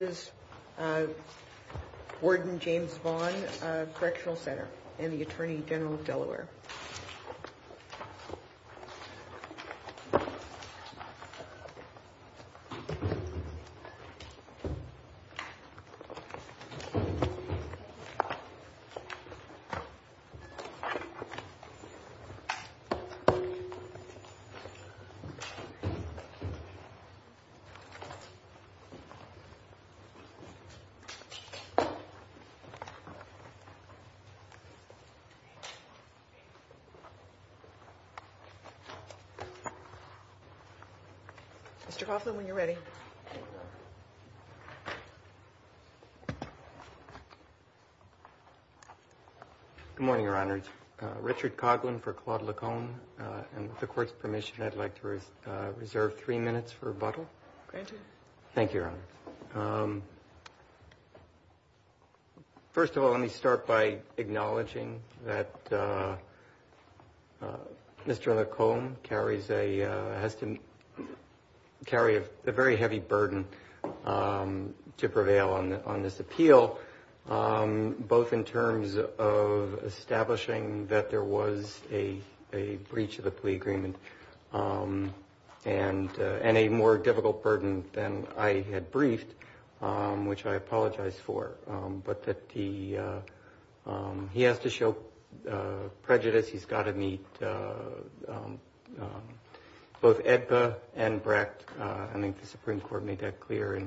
Correctional Center and the Attorney General of Delaware. Mr. Coughlin, when you're ready. Good morning, Your Honors. Richard Coughlin for Claude Lacombe. And with the Court's permission, I'd like to reserve three minutes for rebuttal. Granted. Thank you, Your Honor. First of all, let me start by acknowledging that Mr. Lacombe has to carry a very heavy burden to prevail on this appeal, both in terms of establishing that there was a breach of the plea agreement and a more difficult burden than I had briefed, which I apologize for, but that he has to show prejudice. He's got to meet both EDPA and Brecht. I think the Supreme Court made that clear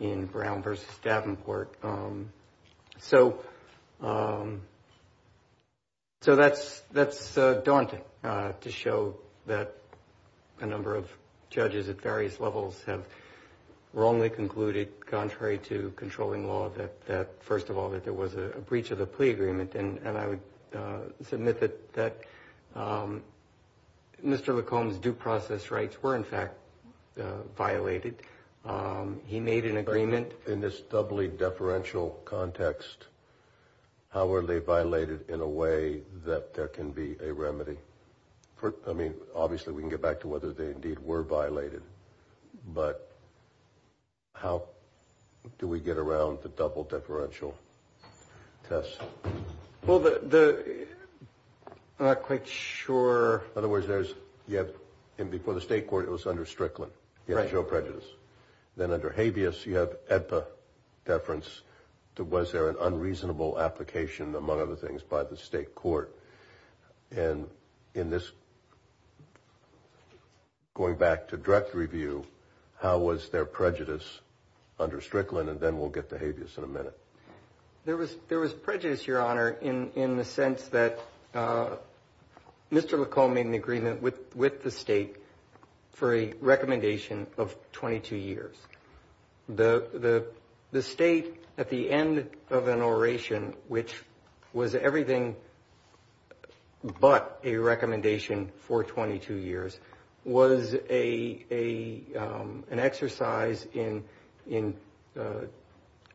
in Brown v. Davenport. So that's daunting to show that a number of judges at various levels have wrongly concluded, contrary to controlling law, that first of all, that there was a breach of the plea agreement. And I would submit that Mr. Lacombe's due process rights were, in fact, violated. He made an agreement. In this doubly deferential context, how are they violated in a way that there can be a remedy? I mean, obviously we can get back to whether they indeed were violated. But how do we get around the double deferential test? Well, I'm not quite sure. In other words, before the state court, it was under Strickland. He had to show prejudice. Then under Habeas, you have EDPA deference. Was there an unreasonable application, among other things, by the state court? And in this, going back to direct review, how was there prejudice under Strickland? And then we'll get to Habeas in a minute. There was prejudice, Your Honor, in the sense that Mr. Lacombe made an agreement with the state for a recommendation of 22 years. The state, at the end of an oration, which was everything but a recommendation for 22 years, was an exercise in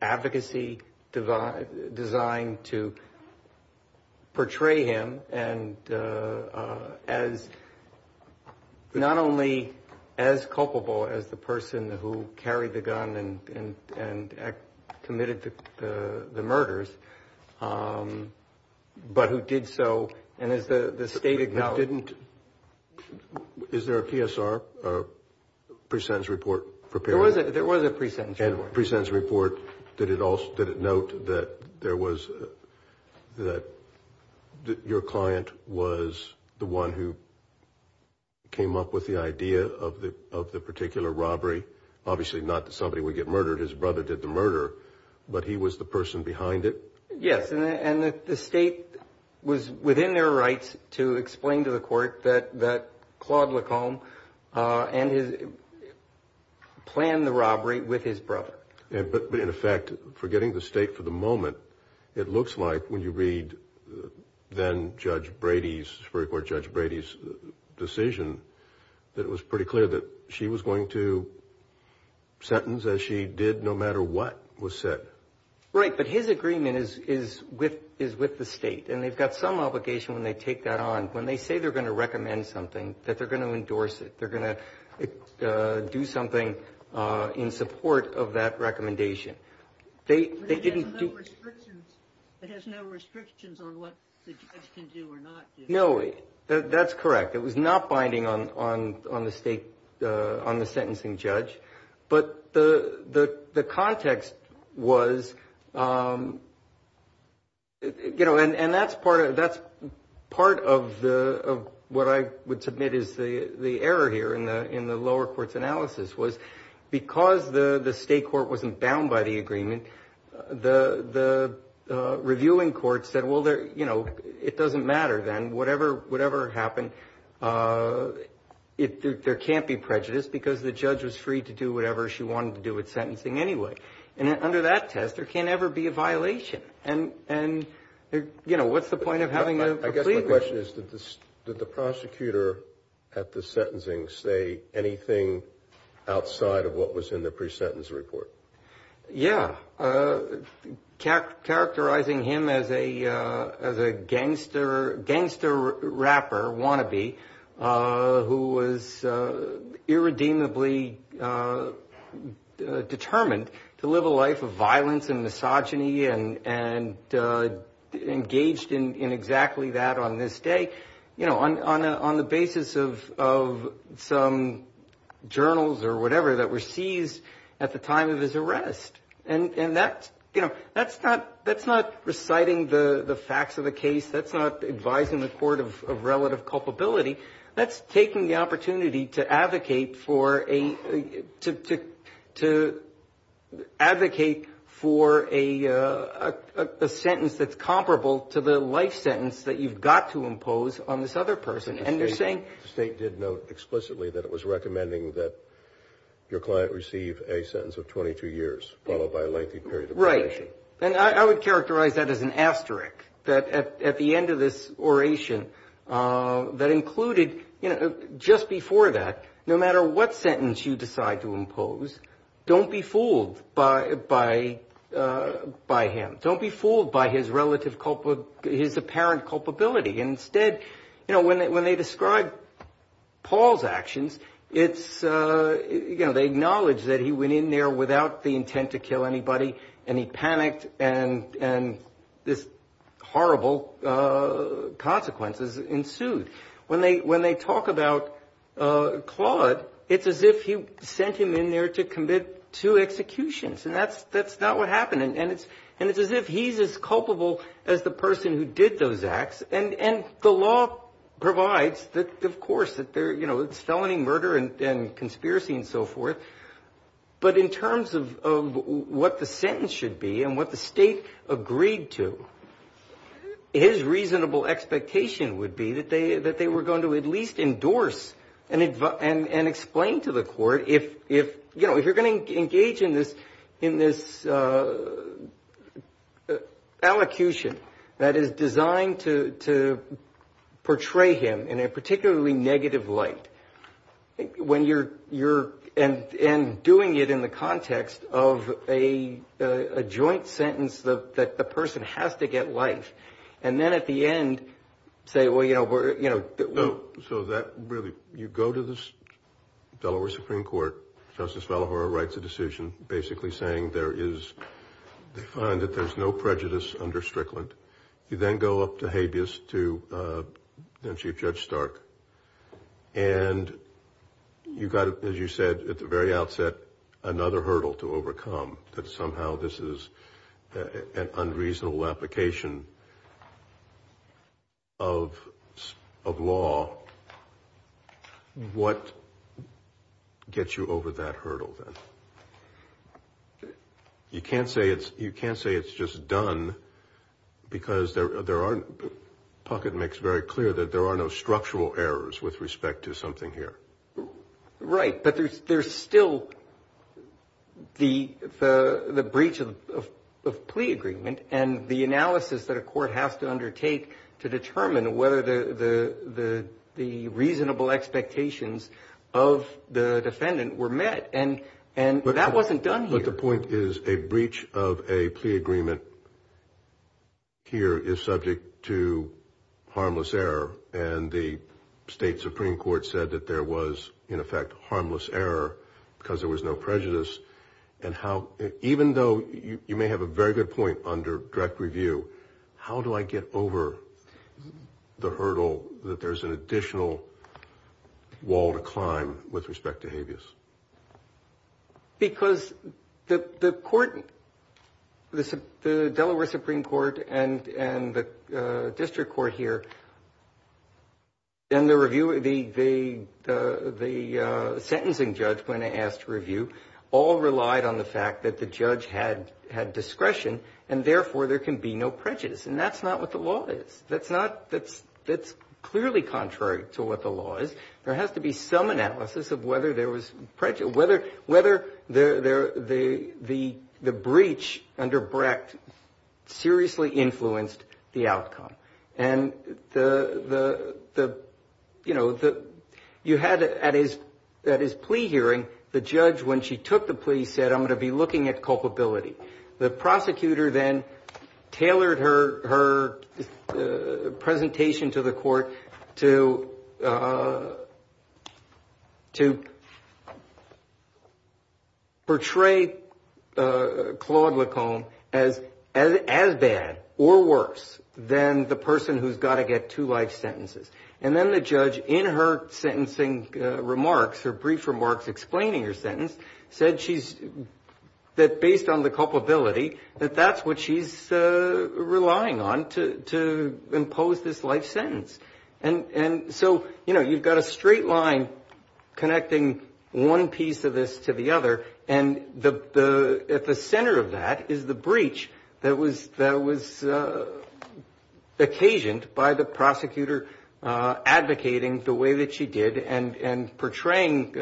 advocacy designed to portray him as not only as culpable as the person who carried the gun and committed the murders, but who did so, and as the state acknowledged. Is there a PSR, a pre-sentence report, prepared? There was a pre-sentence report. Did it note that your client was the one who came up with the idea of the particular robbery? Obviously not that somebody would get murdered. His brother did the murder, but he was the person behind it? Yes, and the state was within their rights to explain to the court that Claude Lacombe planned the robbery with his brother. But in effect, forgetting the state for the moment, it looks like when you read then-Superior Court Judge Brady's decision, that it was pretty clear that she was going to sentence as she did no matter what was said. Right, but his agreement is with the state, and they've got some obligation when they take that on. When they say they're going to recommend something, that they're going to endorse it, they're going to do something in support of that recommendation. It has no restrictions on what the judge can do or not do. No, that's correct. It was not binding on the sentencing judge, but the context was, and that's part of what I would submit is the error here in the lower court's analysis was because the state court wasn't bound by the agreement, the reviewing court said, well, it doesn't matter then, whatever happened, there can't be prejudice because the judge was free to do whatever she wanted to do with sentencing anyway. And under that test, there can't ever be a violation. And, you know, what's the point of having a plea agreement? I guess my question is did the prosecutor at the sentencing say anything outside of what was in the pre-sentence report? Yeah. Characterizing him as a gangster rapper wannabe who was irredeemably determined to live a life of violence and misogyny and engaged in exactly that on this day, you know, on the basis of some journals or whatever that were seized at the time of his arrest. And that's, you know, that's not reciting the facts of the case. That's not advising the court of relative culpability. That's taking the opportunity to advocate for a sentence that's comparable to the life sentence that you've got to impose on this other person. And you're saying? The state did note explicitly that it was recommending that your client receive a sentence of 22 years, followed by a lengthy period of probation. Right. And I would characterize that as an asterisk, that at the end of this oration that included, you know, just before that, no matter what sentence you decide to impose, don't be fooled by him. Don't be fooled by his relative, his apparent culpability. And instead, you know, when they describe Paul's actions, it's, you know, they acknowledge that he went in there without the intent to kill anybody and he panicked and this horrible consequences ensued. When they talk about Claude, it's as if he sent him in there to commit two executions. And that's not what happened. And it's as if he's as culpable as the person who did those acts. And the law provides that, of course, you know, it's felony murder and conspiracy and so forth. But in terms of what the sentence should be and what the state agreed to, his reasonable expectation would be that they were going to at least endorse and explain to the court if, you know, if you're going to engage in this elocution that is designed to portray him in a particularly negative light when you're doing it in the context of a joint sentence that the person has to get life. And then at the end say, well, you know, we're, you know. So that really, you go to the Delaware Supreme Court, Justice Fallahor writes a decision basically saying there is, they find that there's no prejudice under Strickland. You then go up to habeas to then Chief Judge Stark. And you got, as you said at the very outset, another hurdle to overcome, that somehow this is an unreasonable application of law. What gets you over that hurdle then? You can't say it's just done because there are, Puckett makes very clear, that there are no structural errors with respect to something here. Right, but there's still the breach of plea agreement and the analysis that a court has to undertake to determine whether the reasonable expectations of the defendant were met. And that wasn't done here. But the point is a breach of a plea agreement here is subject to harmless error. And the state Supreme Court said that there was, in effect, harmless error because there was no prejudice. And how, even though you may have a very good point under direct review, how do I get over the hurdle that there's an additional wall to climb with respect to habeas? Because the court, the Delaware Supreme Court and the district court here, and the sentencing judge when asked to review all relied on the fact that the judge had discretion and therefore there can be no prejudice. And that's not what the law is. That's clearly contrary to what the law is. There has to be some analysis of whether there was prejudice, whether the breach under Brecht seriously influenced the outcome. And, you know, you had at his plea hearing, the judge when she took the plea said, I'm going to be looking at culpability. The prosecutor then tailored her presentation to the court to portray Claude Lacombe as bad or worse than the person who's got to get two life sentences. And then the judge, in her sentencing remarks, her brief remarks explaining her sentence, said that based on the culpability that that's what she's relying on to impose this life sentence. And so, you know, you've got a straight line connecting one piece of this to the other. And at the center of that is the breach that was occasioned by the prosecutor advocating the way that she did and portraying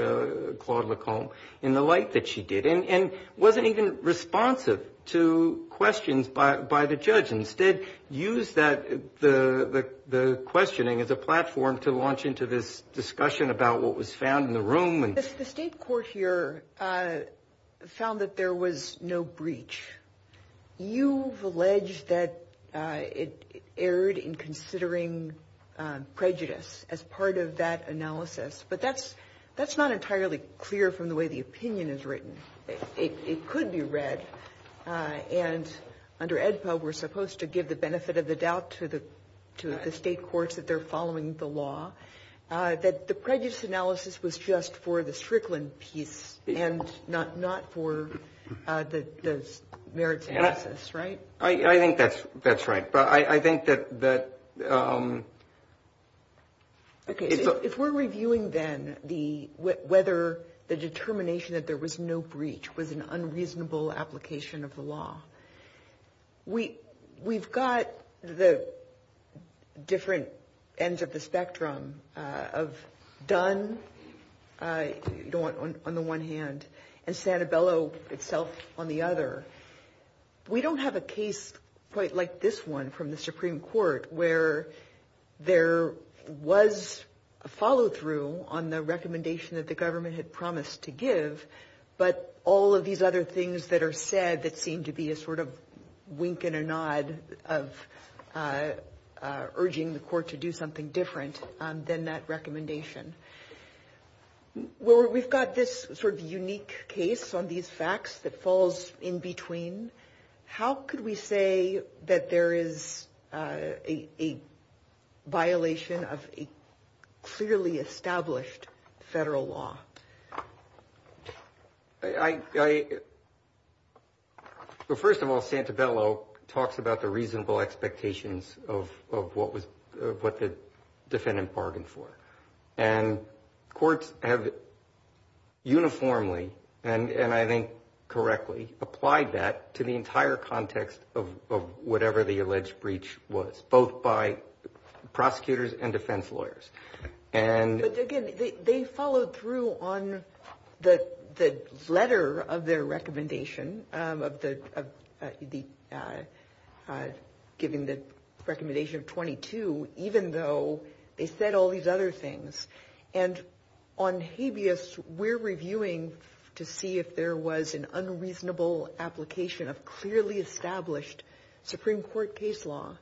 Claude Lacombe in the light that she did and wasn't even responsive to questions by the judge. Instead, used the questioning as a platform to launch into this discussion about what was found in the room. The State court here found that there was no breach. You've alleged that it erred in considering prejudice as part of that analysis. But that's not entirely clear from the way the opinion is written. It could be read. And under AEDPA, we're supposed to give the benefit of the doubt to the State courts that they're following the law. That the prejudice analysis was just for the Strickland piece and not for the merits analysis. Right? I think that's right. But I think that. If we're reviewing then whether the determination that there was no breach was an unreasonable application of the law, we've got the different ends of the spectrum of Dunn on the one hand and Santabello itself on the other. We don't have a case quite like this one from the Supreme Court where there was a follow-through on the recommendation that the government had promised to give, but all of these other things that are said that seem to be a sort of wink and a nod of urging the court to do something different than that recommendation. We've got this sort of unique case on these facts that falls in between. How could we say that there is a violation of a clearly established federal law? First of all, Santabello talks about the reasonable expectations of what the defendant bargained for. And courts have uniformly and I think correctly applied that to the entire context of whatever the alleged breach was, both by prosecutors and defense lawyers. But again, they followed through on the letter of their recommendation of giving the recommendation of 22, even though they said all these other things. And on habeas, we're reviewing to see if there was an unreasonable application of clearly established Supreme Court case law.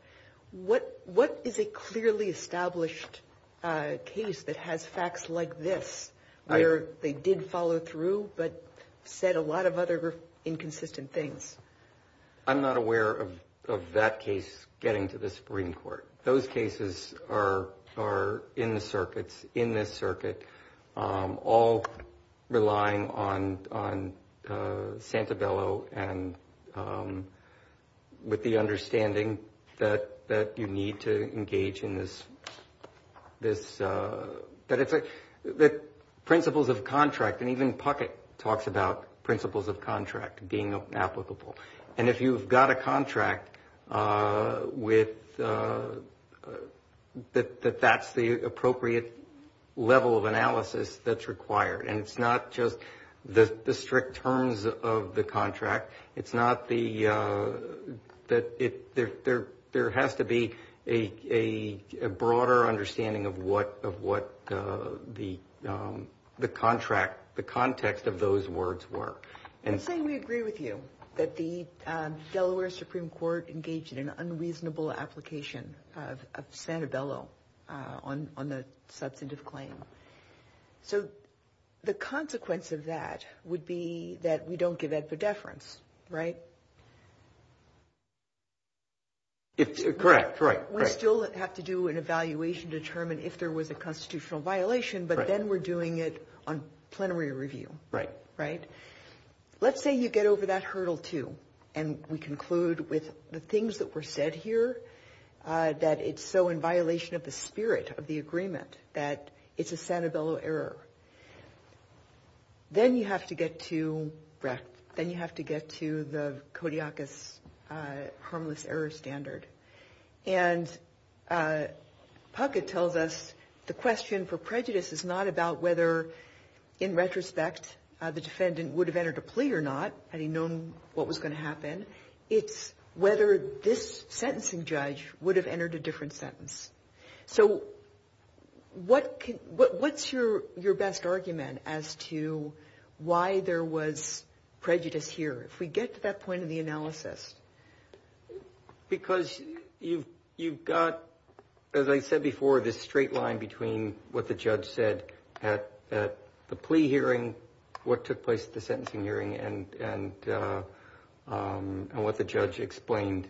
What is a clearly established case that has facts like this where they did follow through but said a lot of other inconsistent things? I'm not aware of that case getting to the Supreme Court. Those cases are in the circuits, in this circuit, all relying on Santabello and with the understanding that you need to engage in this. Principles of contract, and even Puckett talks about principles of contract being applicable. And if you've got a contract, that that's the appropriate level of analysis that's required. And it's not just the strict terms of the contract. It's not the, there has to be a broader understanding of what the contract, the context of those words were. I'm saying we agree with you that the Delaware Supreme Court engaged in an unreasonable application of Santabello on the substantive claim. So the consequence of that would be that we don't give it a deference, right? Correct, right. We still have to do an evaluation to determine if there was a constitutional violation, but then we're doing it on plenary review. Right. Right? Let's say you get over that hurdle, too, and we conclude with the things that were said here, that it's so in violation of the spirit of the agreement that it's a Santabello error. Then you have to get to the Kodiakus harmless error standard. And Puckett tells us the question for prejudice is not about whether, in retrospect, the defendant would have entered a plea or not, had he known what was going to happen. It's whether this sentencing judge would have entered a different sentence. So what's your best argument as to why there was prejudice here? If we get to that point of the analysis. Because you've got, as I said before, this straight line between what the judge said at the plea hearing, what took place at the sentencing hearing, and what the judge explained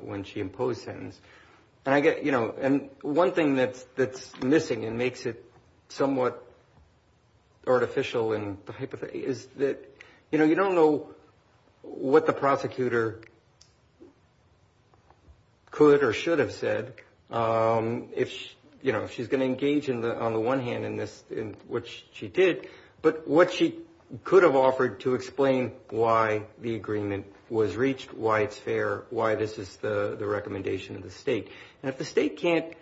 when she imposed sentence. And one thing that's missing and makes it somewhat artificial in the hypothesis is that you don't know what the prosecutor could or should have said if she's going to engage on the one hand in this, which she did, but what she could have offered to explain why the agreement was reached, why it's fair, why this is the recommendation of the state. And if the state can't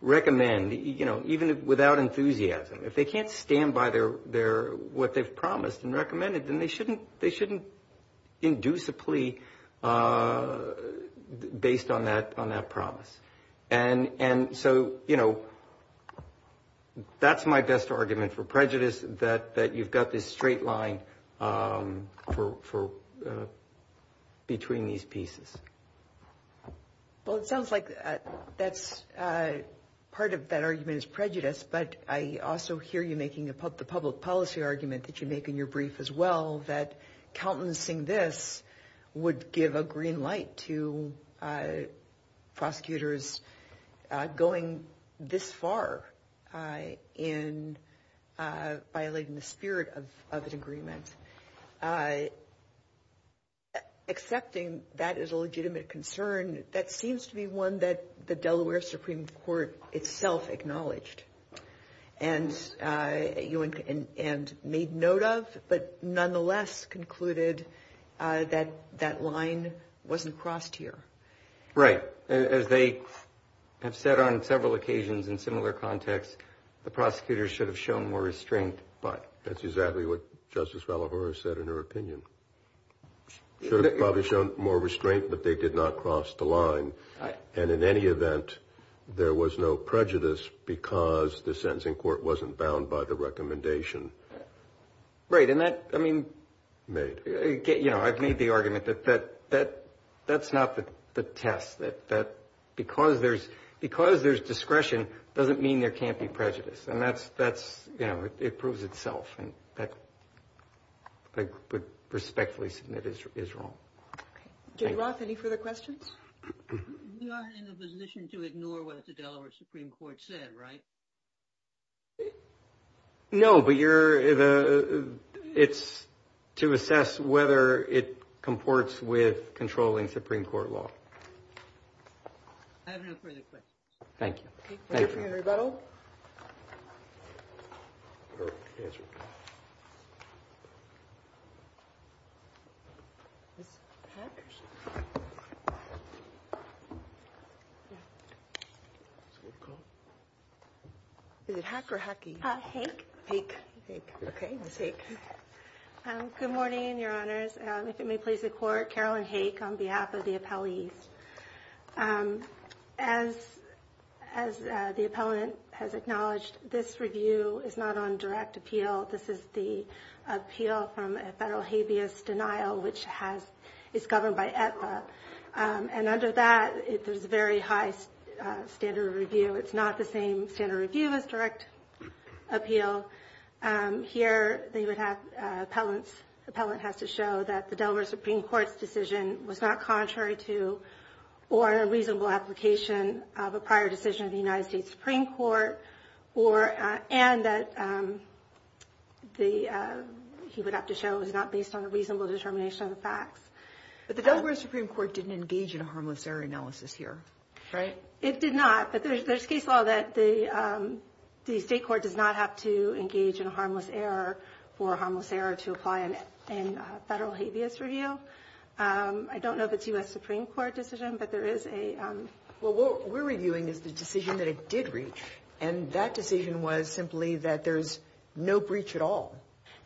recommend, you know, even without enthusiasm, if they can't stand by what they've promised and recommended, then they shouldn't induce a plea based on that promise. And so, you know, that's my best argument for prejudice, that you've got this straight line between these pieces. Well, it sounds like part of that argument is prejudice, but I also hear you making the public policy argument that you make in your brief as well, that countenancing this would give a green light to prosecutors going this far in violating the spirit of an agreement. Accepting that as a legitimate concern, that seems to be one that the Delaware Supreme Court itself acknowledged and made note of, but nonetheless concluded that that line wasn't crossed here. Right. As they have said on several occasions in similar contexts, the prosecutors should have shown more restraint, but. That's exactly what Justice Valla-Forest said in her opinion. Should have probably shown more restraint, but they did not cross the line. And in any event, there was no prejudice because the sentencing court wasn't bound by the recommendation. Right. And that, I mean. Made. You know, I've made the argument that that's not the test, that because there's discretion doesn't mean there can't be prejudice. And that's, you know, it proves itself, and I would respectfully submit is wrong. Did Roth have any further questions? We are in a position to ignore what the Delaware Supreme Court said, right? No, but you're the it's to assess whether it comports with controlling Supreme Court law. I have no further questions. Thank you. Thank you. Very little. The hacker hacky. I hate. Take. Okay. Good morning, Your Honors. If it may please the court. Carolyn Hake on behalf of the appellees. As as the appellant has acknowledged, this review is not on direct appeal. This is the appeal from a federal habeas denial, which has is governed by at. And under that, there's a very high standard review. It's not the same standard review as direct appeal here. They would have appellants. Appellant has to show that the Delaware Supreme Court's decision was not contrary to or a reasonable application of a prior decision of the United States Supreme Court or and that the he would have to show is not based on a reasonable determination of the facts. But the Delaware Supreme Court didn't engage in a harmless error analysis here, right? It did not. But there's case law that the state court does not have to engage in a harmless error for a harmless error to apply in a federal habeas review. I don't know if it's U.S. Supreme Court decision, but there is a. Well, what we're reviewing is the decision that it did reach. And that decision was simply that there's no breach at all,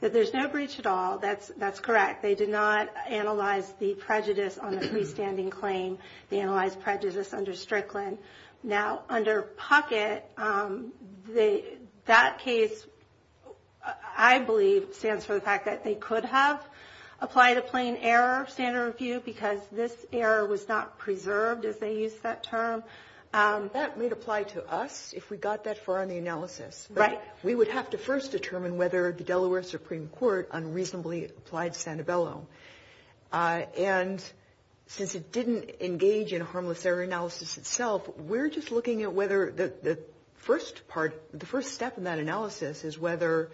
that there's no breach at all. That's that's correct. They did not analyze the prejudice on the freestanding claim. They analyzed prejudice under Strickland. Now, under pocket, they that case, I believe, stands for the fact that they could have applied a plain error standard review because this error was not preserved as they use that term. That may apply to us if we got that far in the analysis. Right. We would have to first determine whether the Delaware Supreme Court unreasonably applied Sanabella. And since it didn't engage in harmless error analysis itself, we're just looking at whether the first part, the first step in that analysis is whether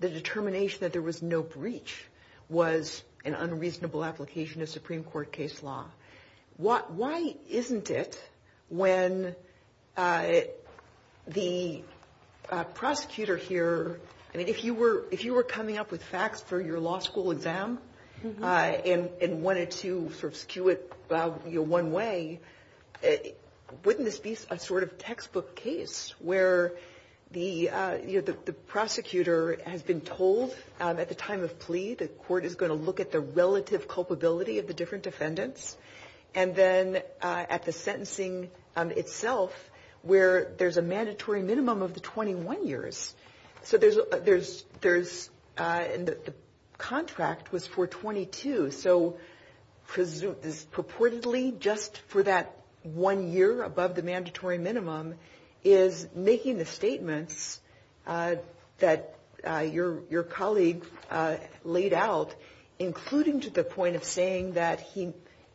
the determination that there was no breach was an unreasonable application of Supreme Court case law. Why isn't it when the prosecutor here, I mean, if you were if you were coming up with facts for your law school exam and wanted to sort of skew it one way, wouldn't this be a sort of textbook case where the prosecutor has been told at the time of plea that court is going to look at the relative culpability of the different defendants and then at the sentencing itself where there's a mandatory minimum of the 21 years. So there's there's there's the contract was for 22. So presumably this purportedly just for that one year above the mandatory minimum is making the statements that your your colleague laid out, including to the point of saying that he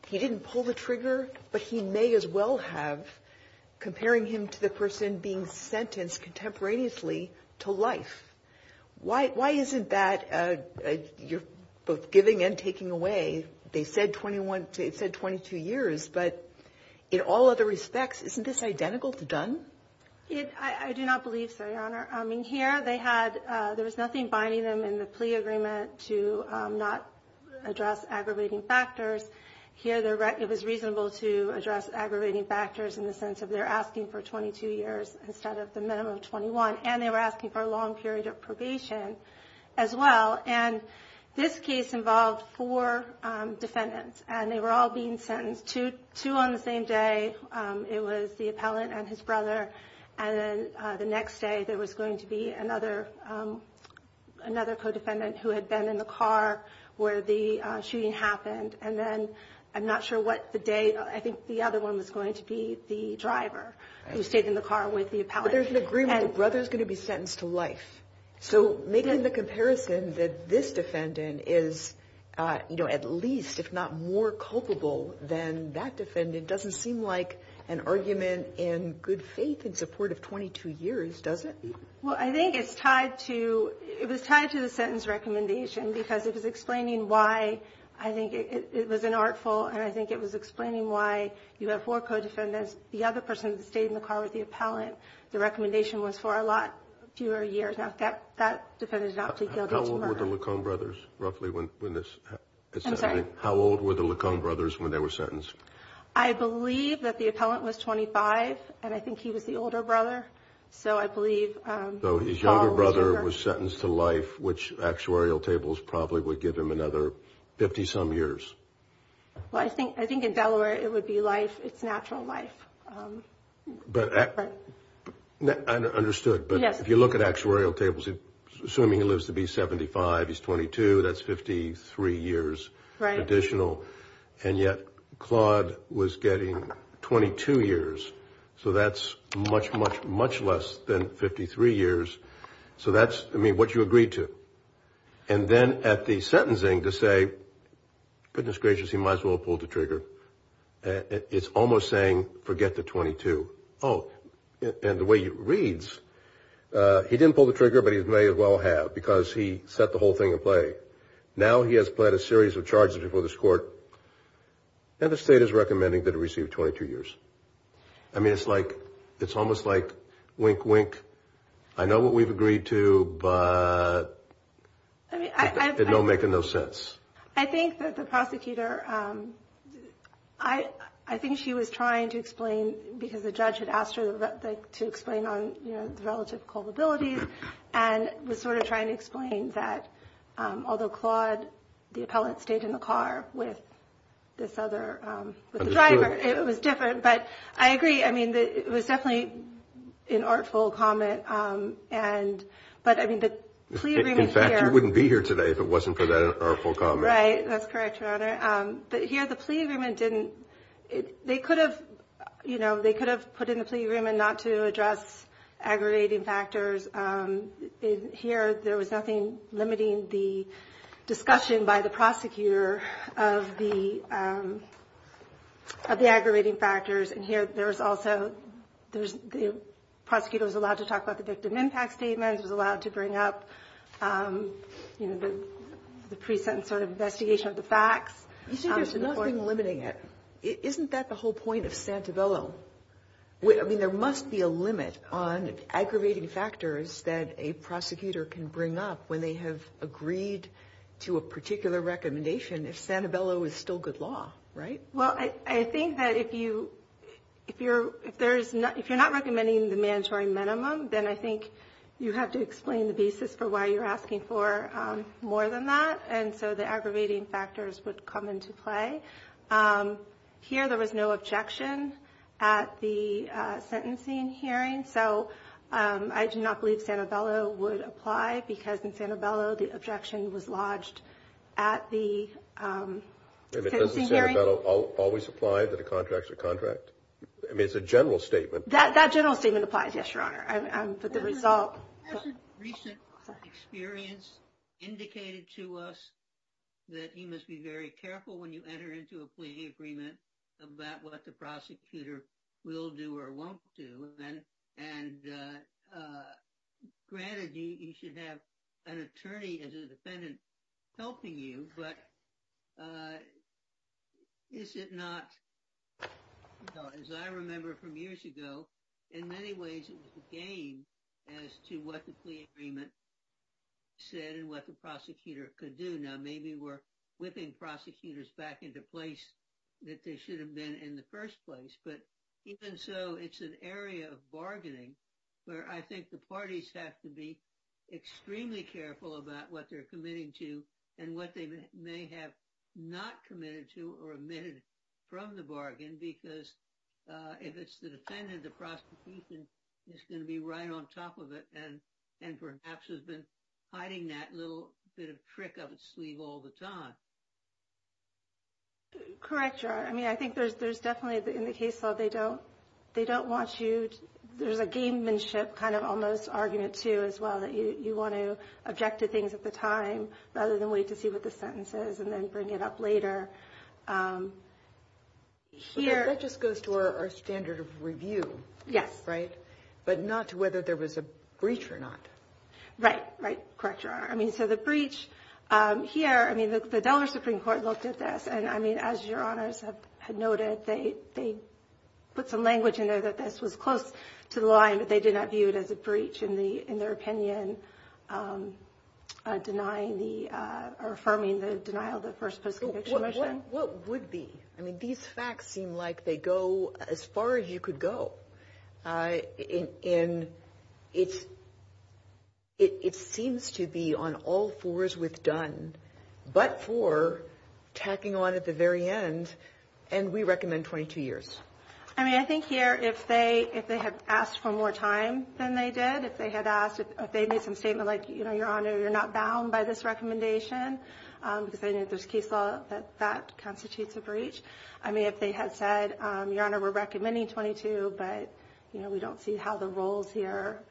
he didn't pull the trigger, but he may as well have comparing him to the person being sentenced contemporaneously to life. Why? Why isn't that you're both giving and taking away? They said 21 to 22 years, but in all other respects, isn't this identical to Dunn? I do not believe so, Your Honor. I mean, here they had there was nothing binding them in the plea agreement to not address aggravating factors here. It was reasonable to address aggravating factors in the sense of they're asking for 22 years instead of the minimum of 21. And they were asking for a long period of probation as well. And this case involved four defendants and they were all being sentenced to two on the same day. It was the appellant and his brother. And then the next day there was going to be another another codefendant who had been in the car where the shooting happened. And then I'm not sure what the date. I think the other one was going to be the driver who stayed in the car with the appellant. There's an agreement. Brother is going to be sentenced to life. So making the comparison that this defendant is, you know, at least if not more culpable than that defendant doesn't seem like an argument in good faith in support of 22 years, does it? Well, I think it's tied to it was tied to the sentence recommendation because it was explaining why I think it was an artful. And I think it was explaining why you have four codefendants. The other person stayed in the car with the appellant. The recommendation was for a lot fewer years. That defendant is not guilty. How old were the Lacombe brothers roughly when this happened? How old were the Lacombe brothers when they were sentenced? I believe that the appellant was 25 and I think he was the older brother. So I believe his younger brother was sentenced to life, which actuarial tables probably would give him another 50 some years. Well, I think I think in Delaware it would be life. It's natural life. But I understood. But if you look at actuarial tables, assuming he lives to be 75, he's 22. That's 53 years additional. And yet Claude was getting 22 years. So that's much, much, much less than 53 years. So that's what you agreed to. And then at the sentencing to say, goodness gracious, he might as well pull the trigger. It's almost saying forget the 22. Oh, and the way he reads, he didn't pull the trigger, but he may as well have because he set the whole thing in play. Now he has pled a series of charges before this court. And the state is recommending that he receive 22 years. I mean, it's like it's almost like wink, wink. I know what we've agreed to, but I don't make no sense. I think that the prosecutor I I think she was trying to explain because the judge had asked her to explain on relative culpability. And we're sort of trying to explain that. Although Claude, the appellate stayed in the car with this other driver, it was different. But I agree. I mean, it was definitely an artful comment. And but I mean, in fact, you wouldn't be here today if it wasn't for that artful comment. Right. That's correct. But here the plea agreement didn't. They could have you know, they could have put in the plea agreement not to address aggravating factors here. There was nothing limiting the discussion by the prosecutor of the of the aggravating factors. And here there was also there was the prosecutor was allowed to talk about the victim impact statements, was allowed to bring up the present sort of investigation of the facts. You see, there's nothing limiting it. Isn't that the whole point of Santabello? I mean, there must be a limit on aggravating factors that a prosecutor can bring up when they have agreed to a particular recommendation. If Santabello is still good law. Right. Well, I think that if you if you're if there's not if you're not recommending the mandatory minimum, then I think you have to explain the basis for why you're asking for more than that. And so the aggravating factors would come into play here. There was no objection at the sentencing hearing. So I do not believe Santabello would apply because in Santabello, the objection was lodged at the hearing. Santabello always applied to the contracts or contract. I mean, it's a general statement. That general statement applies. Yes, your honor. But the result. Recent experience indicated to us that he must be very careful when you enter into a plea agreement about what the prosecutor will do or won't do. And granted, you should have an attorney as a defendant helping you. But is it not, as I remember from years ago, in many ways, it was a game as to what the plea agreement said and what the prosecutor could do. Now, maybe we're whipping prosecutors back into place that they should have been in the first place. But even so, it's an area of bargaining where I think the parties have to be extremely careful about what they're committing to and what they may have not committed to or omitted from the bargain, because if it's the defendant, the prosecution is going to be right on top of it and and perhaps has been hiding that little bit of trick up its sleeve all the time. Correct. I mean, I think there's there's definitely in the case, though, they don't they don't want you. There's a gamemanship kind of almost argument to as well that you want to object to things at the time rather than wait to see what the sentence is and then bring it up later. Here, it just goes to our standard of review. Yes. Right. But not to whether there was a breach or not. Right. Right. Correct. I mean, so the breach here, I mean, the Delaware Supreme Court looked at this and I mean, as your honors have noted, they they put some language in there that this was close to the line, but they did not view it as a breach in the in their opinion, denying the or affirming the denial. What would be I mean, these facts seem like they go as far as you could go in. It's it seems to be on all fours with done, but for tacking on at the very end. And we recommend 22 years. I mean, I think here, if they if they have asked for more time than they did, if they had asked if they made some statement like, you know, your honor, you're not bound by this recommendation because there's case law that that constitutes a breach. I mean, if they had said, your honor, we're recommending 22. But, you know, we don't see how the roles here.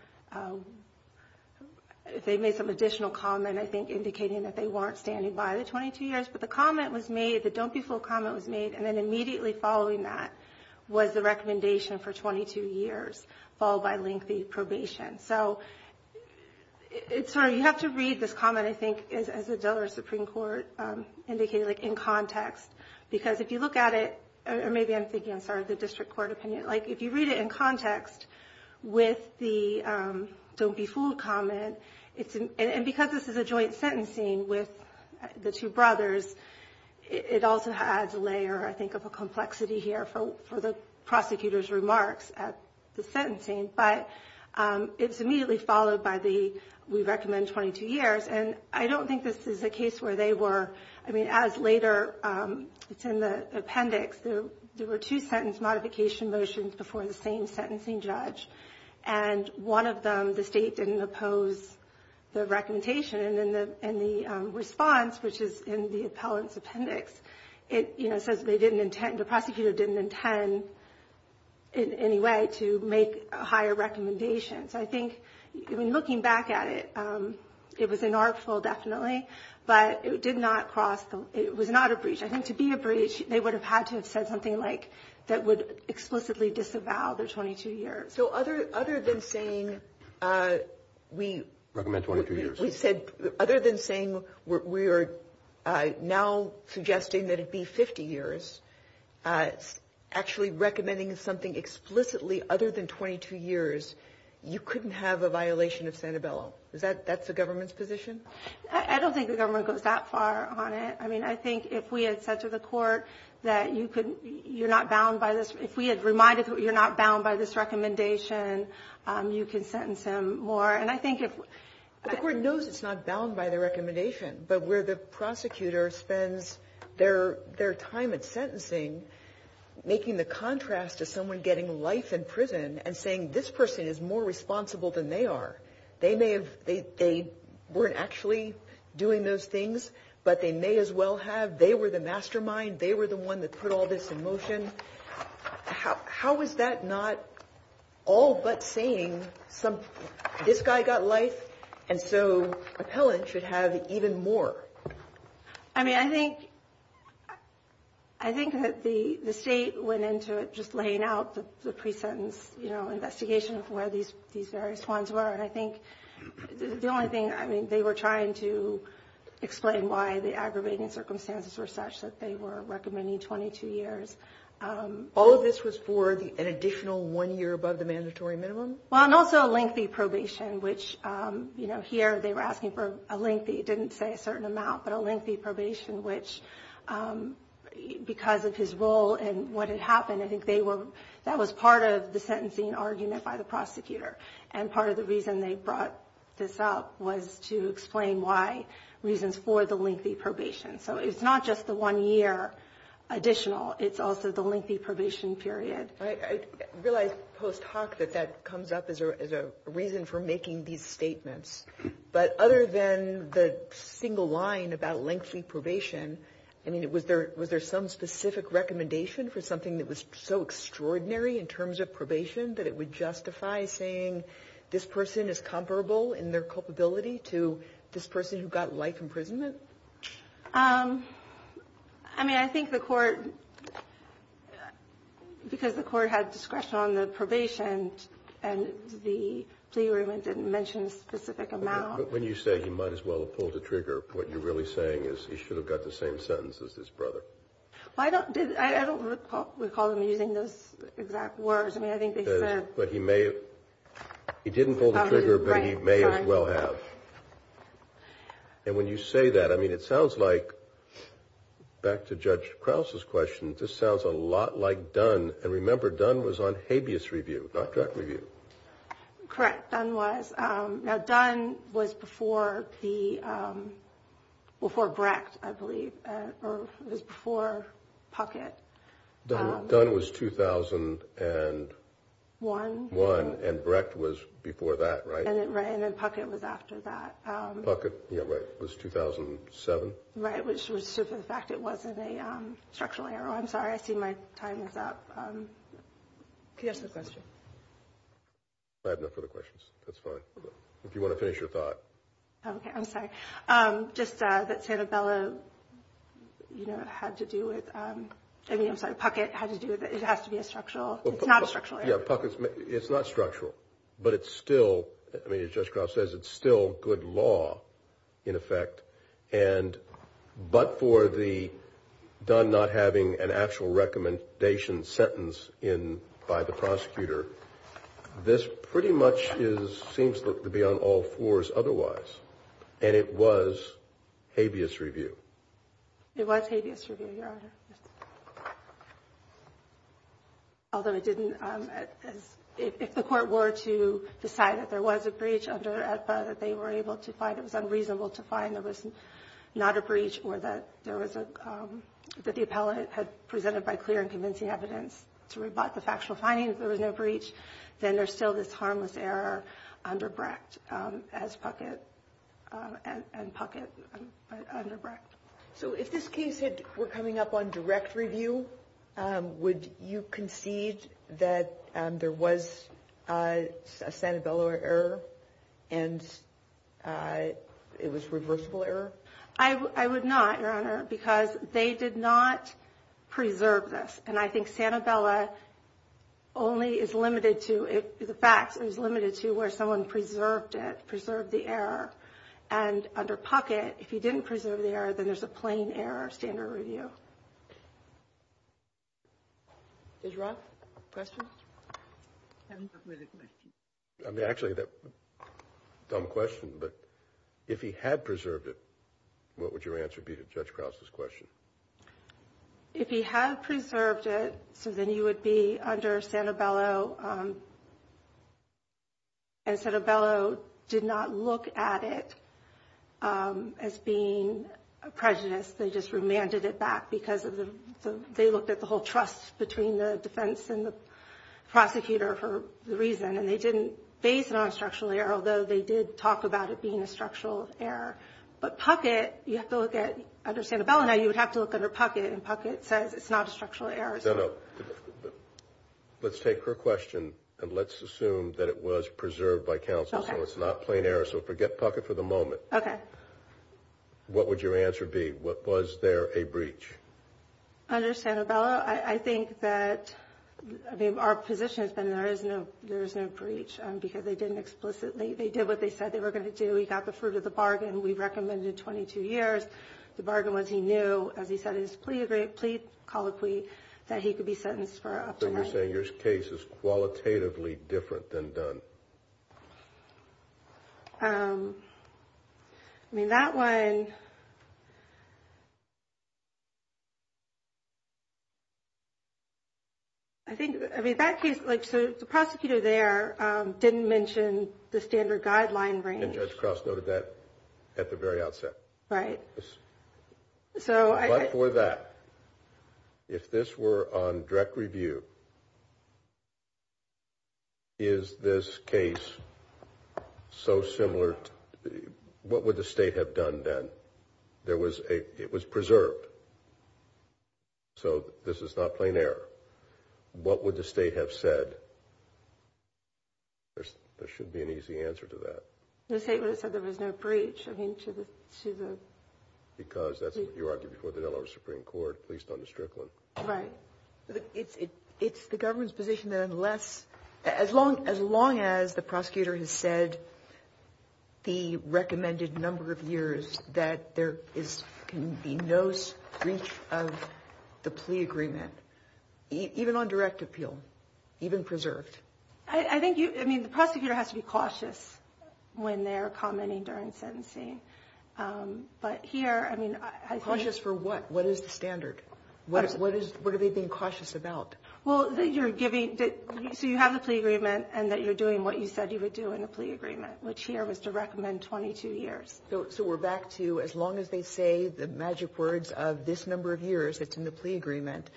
If they made some additional comment, I think indicating that they weren't standing by the 22 years. But the comment was made that don't be full comment was made. And then immediately following that was the recommendation for 22 years, followed by lengthy probation. So it's sort of you have to read this comment, I think, as a dollar Supreme Court indicated in context, because if you look at it or maybe I'm thinking of the district court opinion, like if you read it in context with the don't be fooled comment, it's because this is a joint sentencing with the two brothers. It also adds a layer, I think, of a complexity here for the prosecutor's remarks at the sentencing. But it's immediately followed by the we recommend 22 years. And I don't think this is a case where they were. I mean, as later it's in the appendix. There were two sentence modification motions before the same sentencing judge and one of them, the state didn't oppose the recommendation and the response, which is in the appellant's appendix. It says they didn't intend the prosecutor didn't intend in any way to make a higher recommendation. So I think looking back at it, it was an artful definitely, but it did not cross. It was not a breach. I think to be a breach, they would have had to have said something like that would explicitly disavow their 22 years. So other other than saying we recommend 22 years, we said other than saying we are now suggesting that it be 50 years. Actually recommending something explicitly other than 22 years. You couldn't have a violation of Santabella. Is that that's the government's position. I don't think the government goes that far on it. I mean, I think if we had said to the court that you could, you're not bound by this. If we had reminded you're not bound by this recommendation, you can sentence him more. And I think if the court knows it's not bound by the recommendation, but where the prosecutor spends their their time at sentencing, making the contrast to someone getting life in prison and saying this person is more responsible than they are. They may have. They weren't actually doing those things, but they may as well have. They were the mastermind. They were the one that put all this in motion. How how is that not all but saying some this guy got life. And so appellant should have even more. I mean, I think I think that the state went into it just laying out the presentence, you know, investigation of where these these various ones were. And I think the only thing I mean, they were trying to explain why the aggravating circumstances were such that they were recommending 22 years. All of this was for an additional one year above the mandatory minimum. Well, and also a lengthy probation, which, you know, here they were asking for a lengthy. It didn't say a certain amount, but a lengthy probation, which because of his role and what had happened, I think they were that was part of the sentencing argument by the prosecutor. And part of the reason they brought this up was to explain why reasons for the lengthy probation. So it's not just the one year additional. It's also the lengthy probation period. I realize post hoc that that comes up as a reason for making these statements. But other than the single line about lengthy probation, I mean, it was there. Was there some specific recommendation for something that was so extraordinary in terms of probation that it would justify saying, this person is comparable in their culpability to this person who got life imprisonment? I mean, I think the court because the court had discretion on the probation and the plea agreement didn't mention a specific amount. When you say you might as well pull the trigger. What you're really saying is he should have got the same sentence as his brother. I don't I don't recall him using those exact words. But he may have. He didn't pull the trigger, but he may as well have. And when you say that, I mean, it sounds like back to Judge Krause's question. This sounds a lot like Dunn. And remember, Dunn was on habeas review, not drug review. Correct. Dunn was now. Dunn was before the before Brecht, I believe. Before Puckett, Dunn was 2001 and Brecht was before that. Right. And then Puckett was after that. Puckett was 2007. Right. Which was the fact it wasn't a structural error. I'm sorry. I see my time is up. Yes, the question. I have no further questions. That's fine. If you want to finish your thought. OK, I'm sorry. Just that Sanabella, you know, had to do with. I mean, I'm sorry. Puckett had to do with it. It has to be a structural. It's not a structural. It's not structural, but it's still I mean, as Judge Krause says, it's still good law in effect. And but for the Dunn not having an actual recommendation sentence in by the prosecutor, this pretty much is seems to be on all fours otherwise. And it was habeas review. It was habeas review, Your Honor. Although it didn't. If the court were to decide that there was a breach under AEDPA that they were able to find, it was unreasonable to find there was not a breach or that there was a that the appellate had presented by clear and convincing evidence to rebut the factual findings. There was no breach. Then there's still this harmless error under Brecht as Puckett and Puckett under Brecht. So if this case were coming up on direct review, would you concede that there was a Sanabella error and it was reversible error? I would not, Your Honor, because they did not preserve this. And I think Sanabella only is limited to the facts. It is limited to where someone preserved it, preserved the error. And under Puckett, if he didn't preserve the error, then there's a plain error standard review. Judge Roth, questions? Actually, that's a dumb question. But if he had preserved it, what would your answer be to Judge Krause's question? If he had preserved it, so then he would be under Sanabella. And Sanabella did not look at it as being a prejudice. They just remanded it back because they looked at the whole trust between the defense and the prosecutor for the reason. And they didn't base it on structural error, although they did talk about it being a structural error. But Puckett, you have to look at under Sanabella. Now, you would have to look under Puckett, and Puckett says it's not a structural error. No, no. Let's take her question, and let's assume that it was preserved by counsel, so it's not plain error. So forget Puckett for the moment. Okay. What would your answer be? Was there a breach? Under Sanabella, I think that our position has been there is no breach because they didn't explicitly. They did what they said they were going to do. We got the fruit of the bargain. We recommended 22 years. The bargain was he knew, as he said in his plea colloquy, that he could be sentenced for up to nine years. So you're saying your case is qualitatively different than Dunn? I mean, that one, I think, I mean, that case, like, so the prosecutor there didn't mention the standard guideline range. And Judge Cross noted that at the very outset. Right. But for that, if this were on direct review, is this case so similar, what would the State have done then? It was preserved, so this is not plain error. What would the State have said? There should be an easy answer to that. The State would have said there was no breach, I mean, to the... Because that's what you argued before the Delaware Supreme Court, at least on the Strickland. Right. It's the government's position that unless, as long as the prosecutor has said the recommended number of years, that there can be no breach of the plea agreement, even on direct appeal, even preserved. I think you, I mean, the prosecutor has to be cautious when they're commenting during sentencing. But here, I mean, I think... Cautious for what? What is the standard? What are they being cautious about? Well, that you're giving, so you have the plea agreement and that you're doing what you said you would do in a plea agreement, which here was to recommend 22 years. So we're back to as long as they say the magic words of this number of years that's in the plea agreement,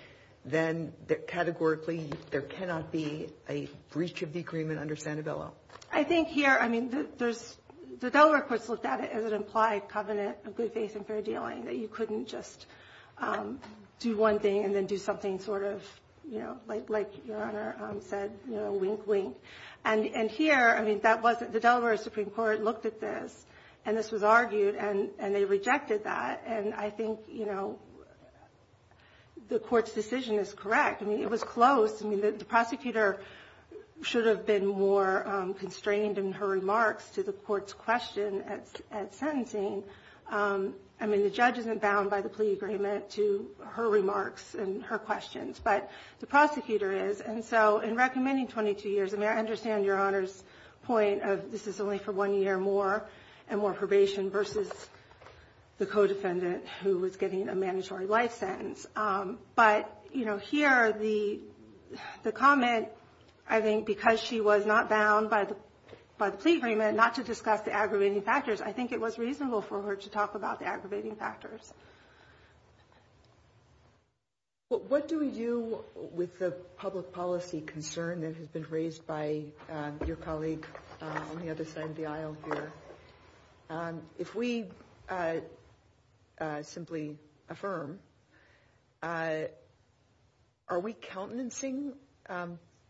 then categorically there cannot be a breach of the agreement under Sanabella. I think here, I mean, the Delaware courts looked at it as an implied covenant of good faith and fair dealing, that you couldn't just do one thing and then do something sort of, you know, like Your Honor said, you know, wink, wink. And here, I mean, that wasn't... This was argued, and they rejected that. And I think, you know, the Court's decision is correct. I mean, it was close. I mean, the prosecutor should have been more constrained in her remarks to the Court's question at sentencing. I mean, the judge isn't bound by the plea agreement to her remarks and her questions, but the prosecutor is. And so in recommending 22 years, I mean, I understand Your Honor's point of this is only for one year more and more probation versus the co-defendant who was getting a mandatory life sentence. But, you know, here the comment, I think because she was not bound by the plea agreement not to discuss the aggravating factors, I think it was reasonable for her to talk about the aggravating factors. What do you, with the public policy concern that has been raised by your colleague on the other side of the aisle here, if we simply affirm, are we countenancing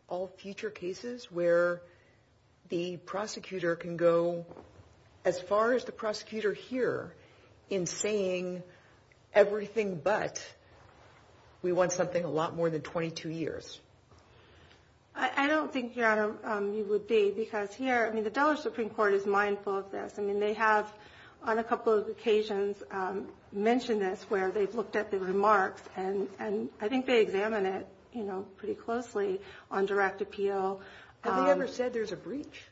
all future cases where the prosecutor can go as far as the prosecutor here in saying everything but we want something a lot more than 22 years? I don't think, Your Honor, you would be. Because here, I mean, the Delaware Supreme Court is mindful of this. I mean, they have on a couple of occasions mentioned this where they've looked at the remarks. And I think they examine it, you know, pretty closely on direct appeal. Have they ever said there's a breach?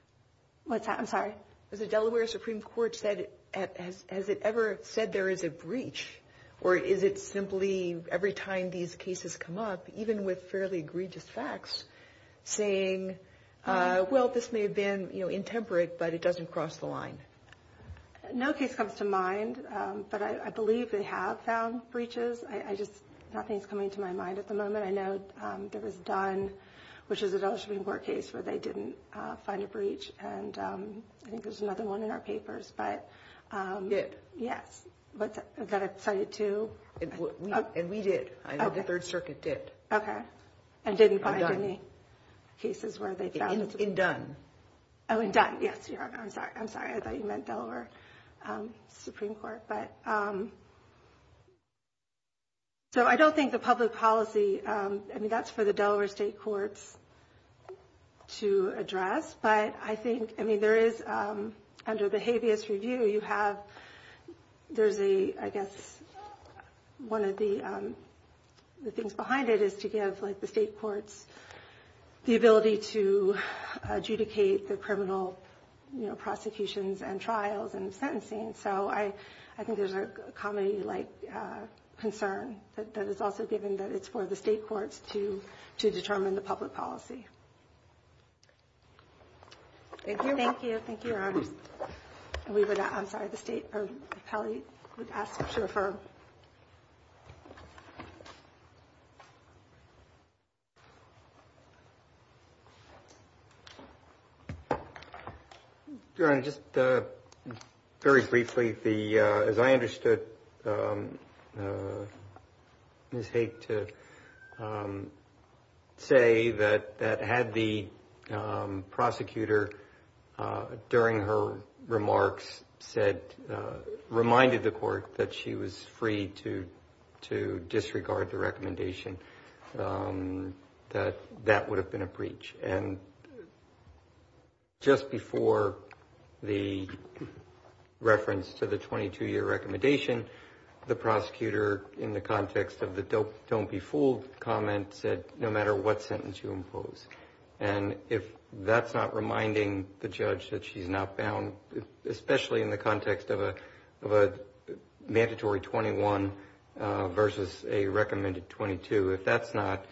What's that? I'm sorry. The Delaware Supreme Court has it ever said there is a breach? Or is it simply every time these cases come up, even with fairly egregious facts, saying, well, this may have been, you know, intemperate, but it doesn't cross the line? No case comes to mind. But I believe they have found breaches. I just, nothing's coming to my mind at the moment. I know there was Dunn, which is a Delaware Supreme Court case where they didn't find a breach. And I think there's another one in our papers, but. Did. Yes. But that it cited to. And we did. I know the Third Circuit did. Okay. And didn't find any cases where they found. In Dunn. Oh, in Dunn. Yes, Your Honor. I'm sorry. I thought you meant Delaware Supreme Court. So I don't think the public policy, I mean, that's for the Delaware State Courts to address. But I think, I mean, there is, under the habeas review, you have, there's a, I guess, one of the things behind it is to give, like, the state courts the ability to adjudicate the criminal, you know, prosecutions and trials and sentencing. So I think there's a comedy-like concern that is also given that it's for the state courts to determine the public policy. Thank you. Thank you. Thank you, Your Honor. And we would, I'm sorry, the state, or Kelly would ask to refer. Your Honor, just very briefly, the, as I understood Ms. Haight to say that had the prosecutor during her remarks said, reminded the court that she was free to disregard the recommendation, that that would have been a breach. And just before the reference to the 22-year recommendation, the prosecutor, in the context of the don't be fooled comment, said no matter what sentence you impose. And if that's not reminding the judge that she's not bound, especially in the context of a mandatory 21 versus a recommended 22, if that's not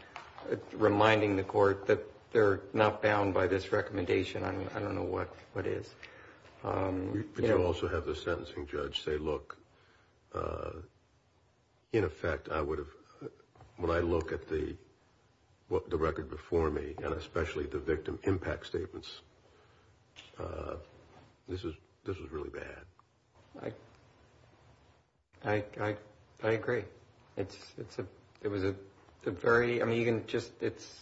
reminding the court that they're not bound by this recommendation, I don't know what is. But you also have the sentencing judge say, look, in effect, I would have, when I look at the record before me, and especially the victim impact statements, this was really bad. I agree. It was a very, I mean, you can just, it's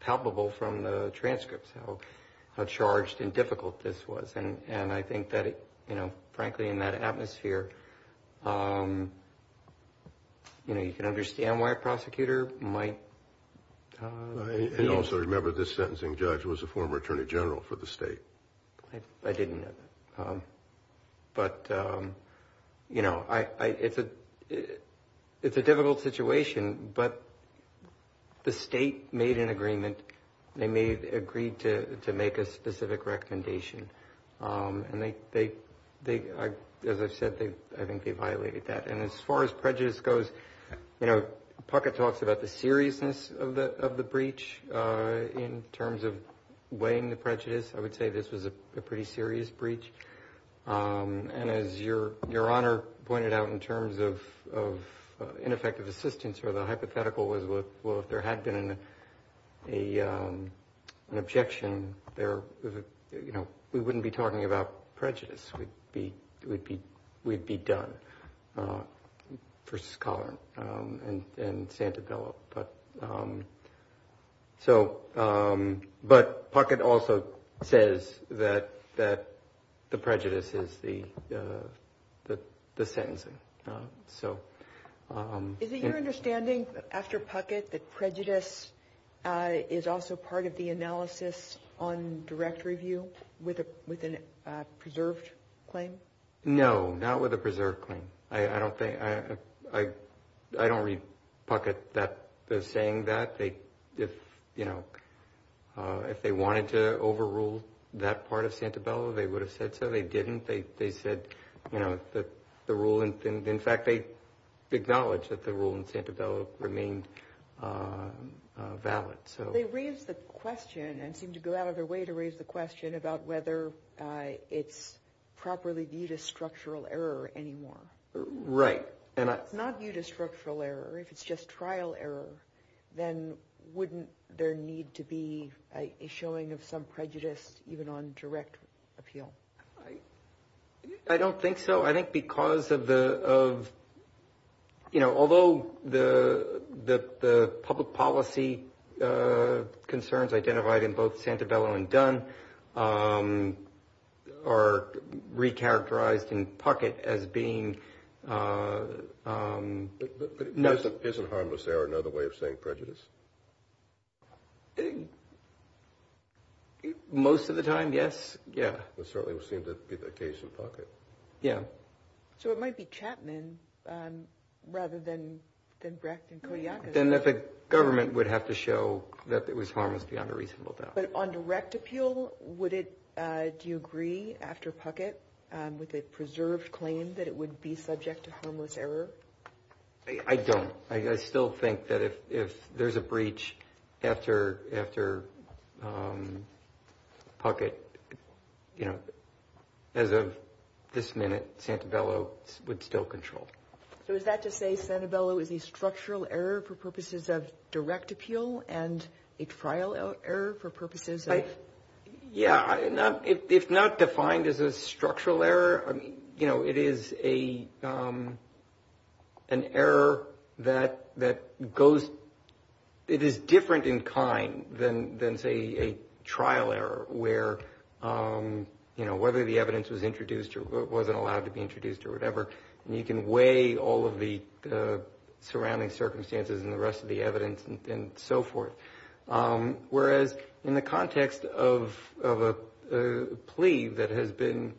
palpable from the transcripts how charged and difficult this was. And I think that, you know, frankly, in that atmosphere, you know, you can understand why a prosecutor might. I also remember this sentencing judge was a former attorney general for the state. I didn't know that. But, you know, it's a difficult situation. But the state made an agreement. They agreed to make a specific recommendation. And they, as I've said, I think they violated that. And as far as prejudice goes, you know, Puckett talks about the seriousness of the breach in terms of weighing the prejudice. I would say this was a pretty serious breach. And as Your Honor pointed out in terms of ineffective assistance or the hypothetical was, well, if there had been an objection, there, you know, we wouldn't be talking about prejudice. We'd be done versus Collin and Santabella. But so but Puckett also says that the prejudice is the sentencing. So is it your understanding after Puckett that prejudice is also part of the analysis on direct review with a with a preserved claim? No, not with a preserved claim. I don't think I I don't read Puckett that they're saying that they did. You know, if they wanted to overrule that part of Santabella, they would have said so. They didn't. They said, you know, that the rule. And in fact, they acknowledge that the rule in Santabella remained valid. So they raise the question and seem to go out of their way to raise the question about whether it's properly viewed as structural error anymore. Right. And it's not viewed as structural error. If it's just trial error, then wouldn't there need to be a showing of some prejudice even on direct appeal? I don't think so. I think because of the of. You know, although the the public policy concerns identified in both Santabella and done are recharacterized in Puckett as being. But isn't harmless error another way of saying prejudice? Most of the time, yes. Yeah, that certainly seemed to be the case in Puckett. Yeah. So it might be Chapman rather than than Brecht and Kodiak. Then the government would have to show that it was harmless beyond a reasonable doubt. But on direct appeal, would it do you agree after Puckett with a preserved claim that it would be subject to harmless error? I don't. I still think that if if there's a breach after after Puckett, you know, as of this minute, Santabella would still control. So is that to say Santabella is a structural error for purposes of direct appeal and a trial error for purposes of. Yeah. If not defined as a structural error. I mean, you know, it is a an error that that goes. It is different in kind than than, say, a trial error where, you know, whether the evidence was introduced or wasn't allowed to be introduced or whatever. And you can weigh all of the surrounding circumstances and the rest of the evidence and so forth. Whereas in the context of of a plea that has been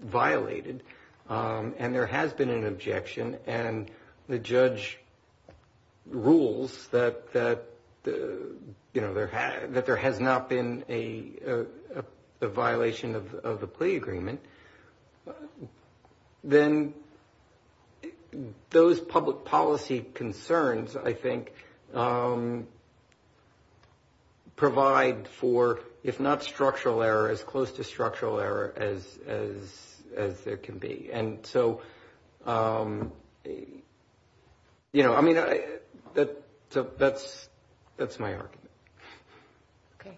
violated and there has been an objection and the judge rules that, you know, there that there has not been a violation of the plea agreement, then those public policy concerns, I think. Provide for, if not structural error, as close to structural error as as as there can be. And so, you know, I mean, that that's that's my argument. OK.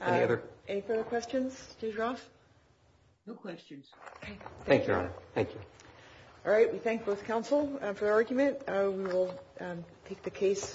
Any other questions? No questions. Thank you. Thank you. All right. We thank both counsel for the argument. We'll take the case.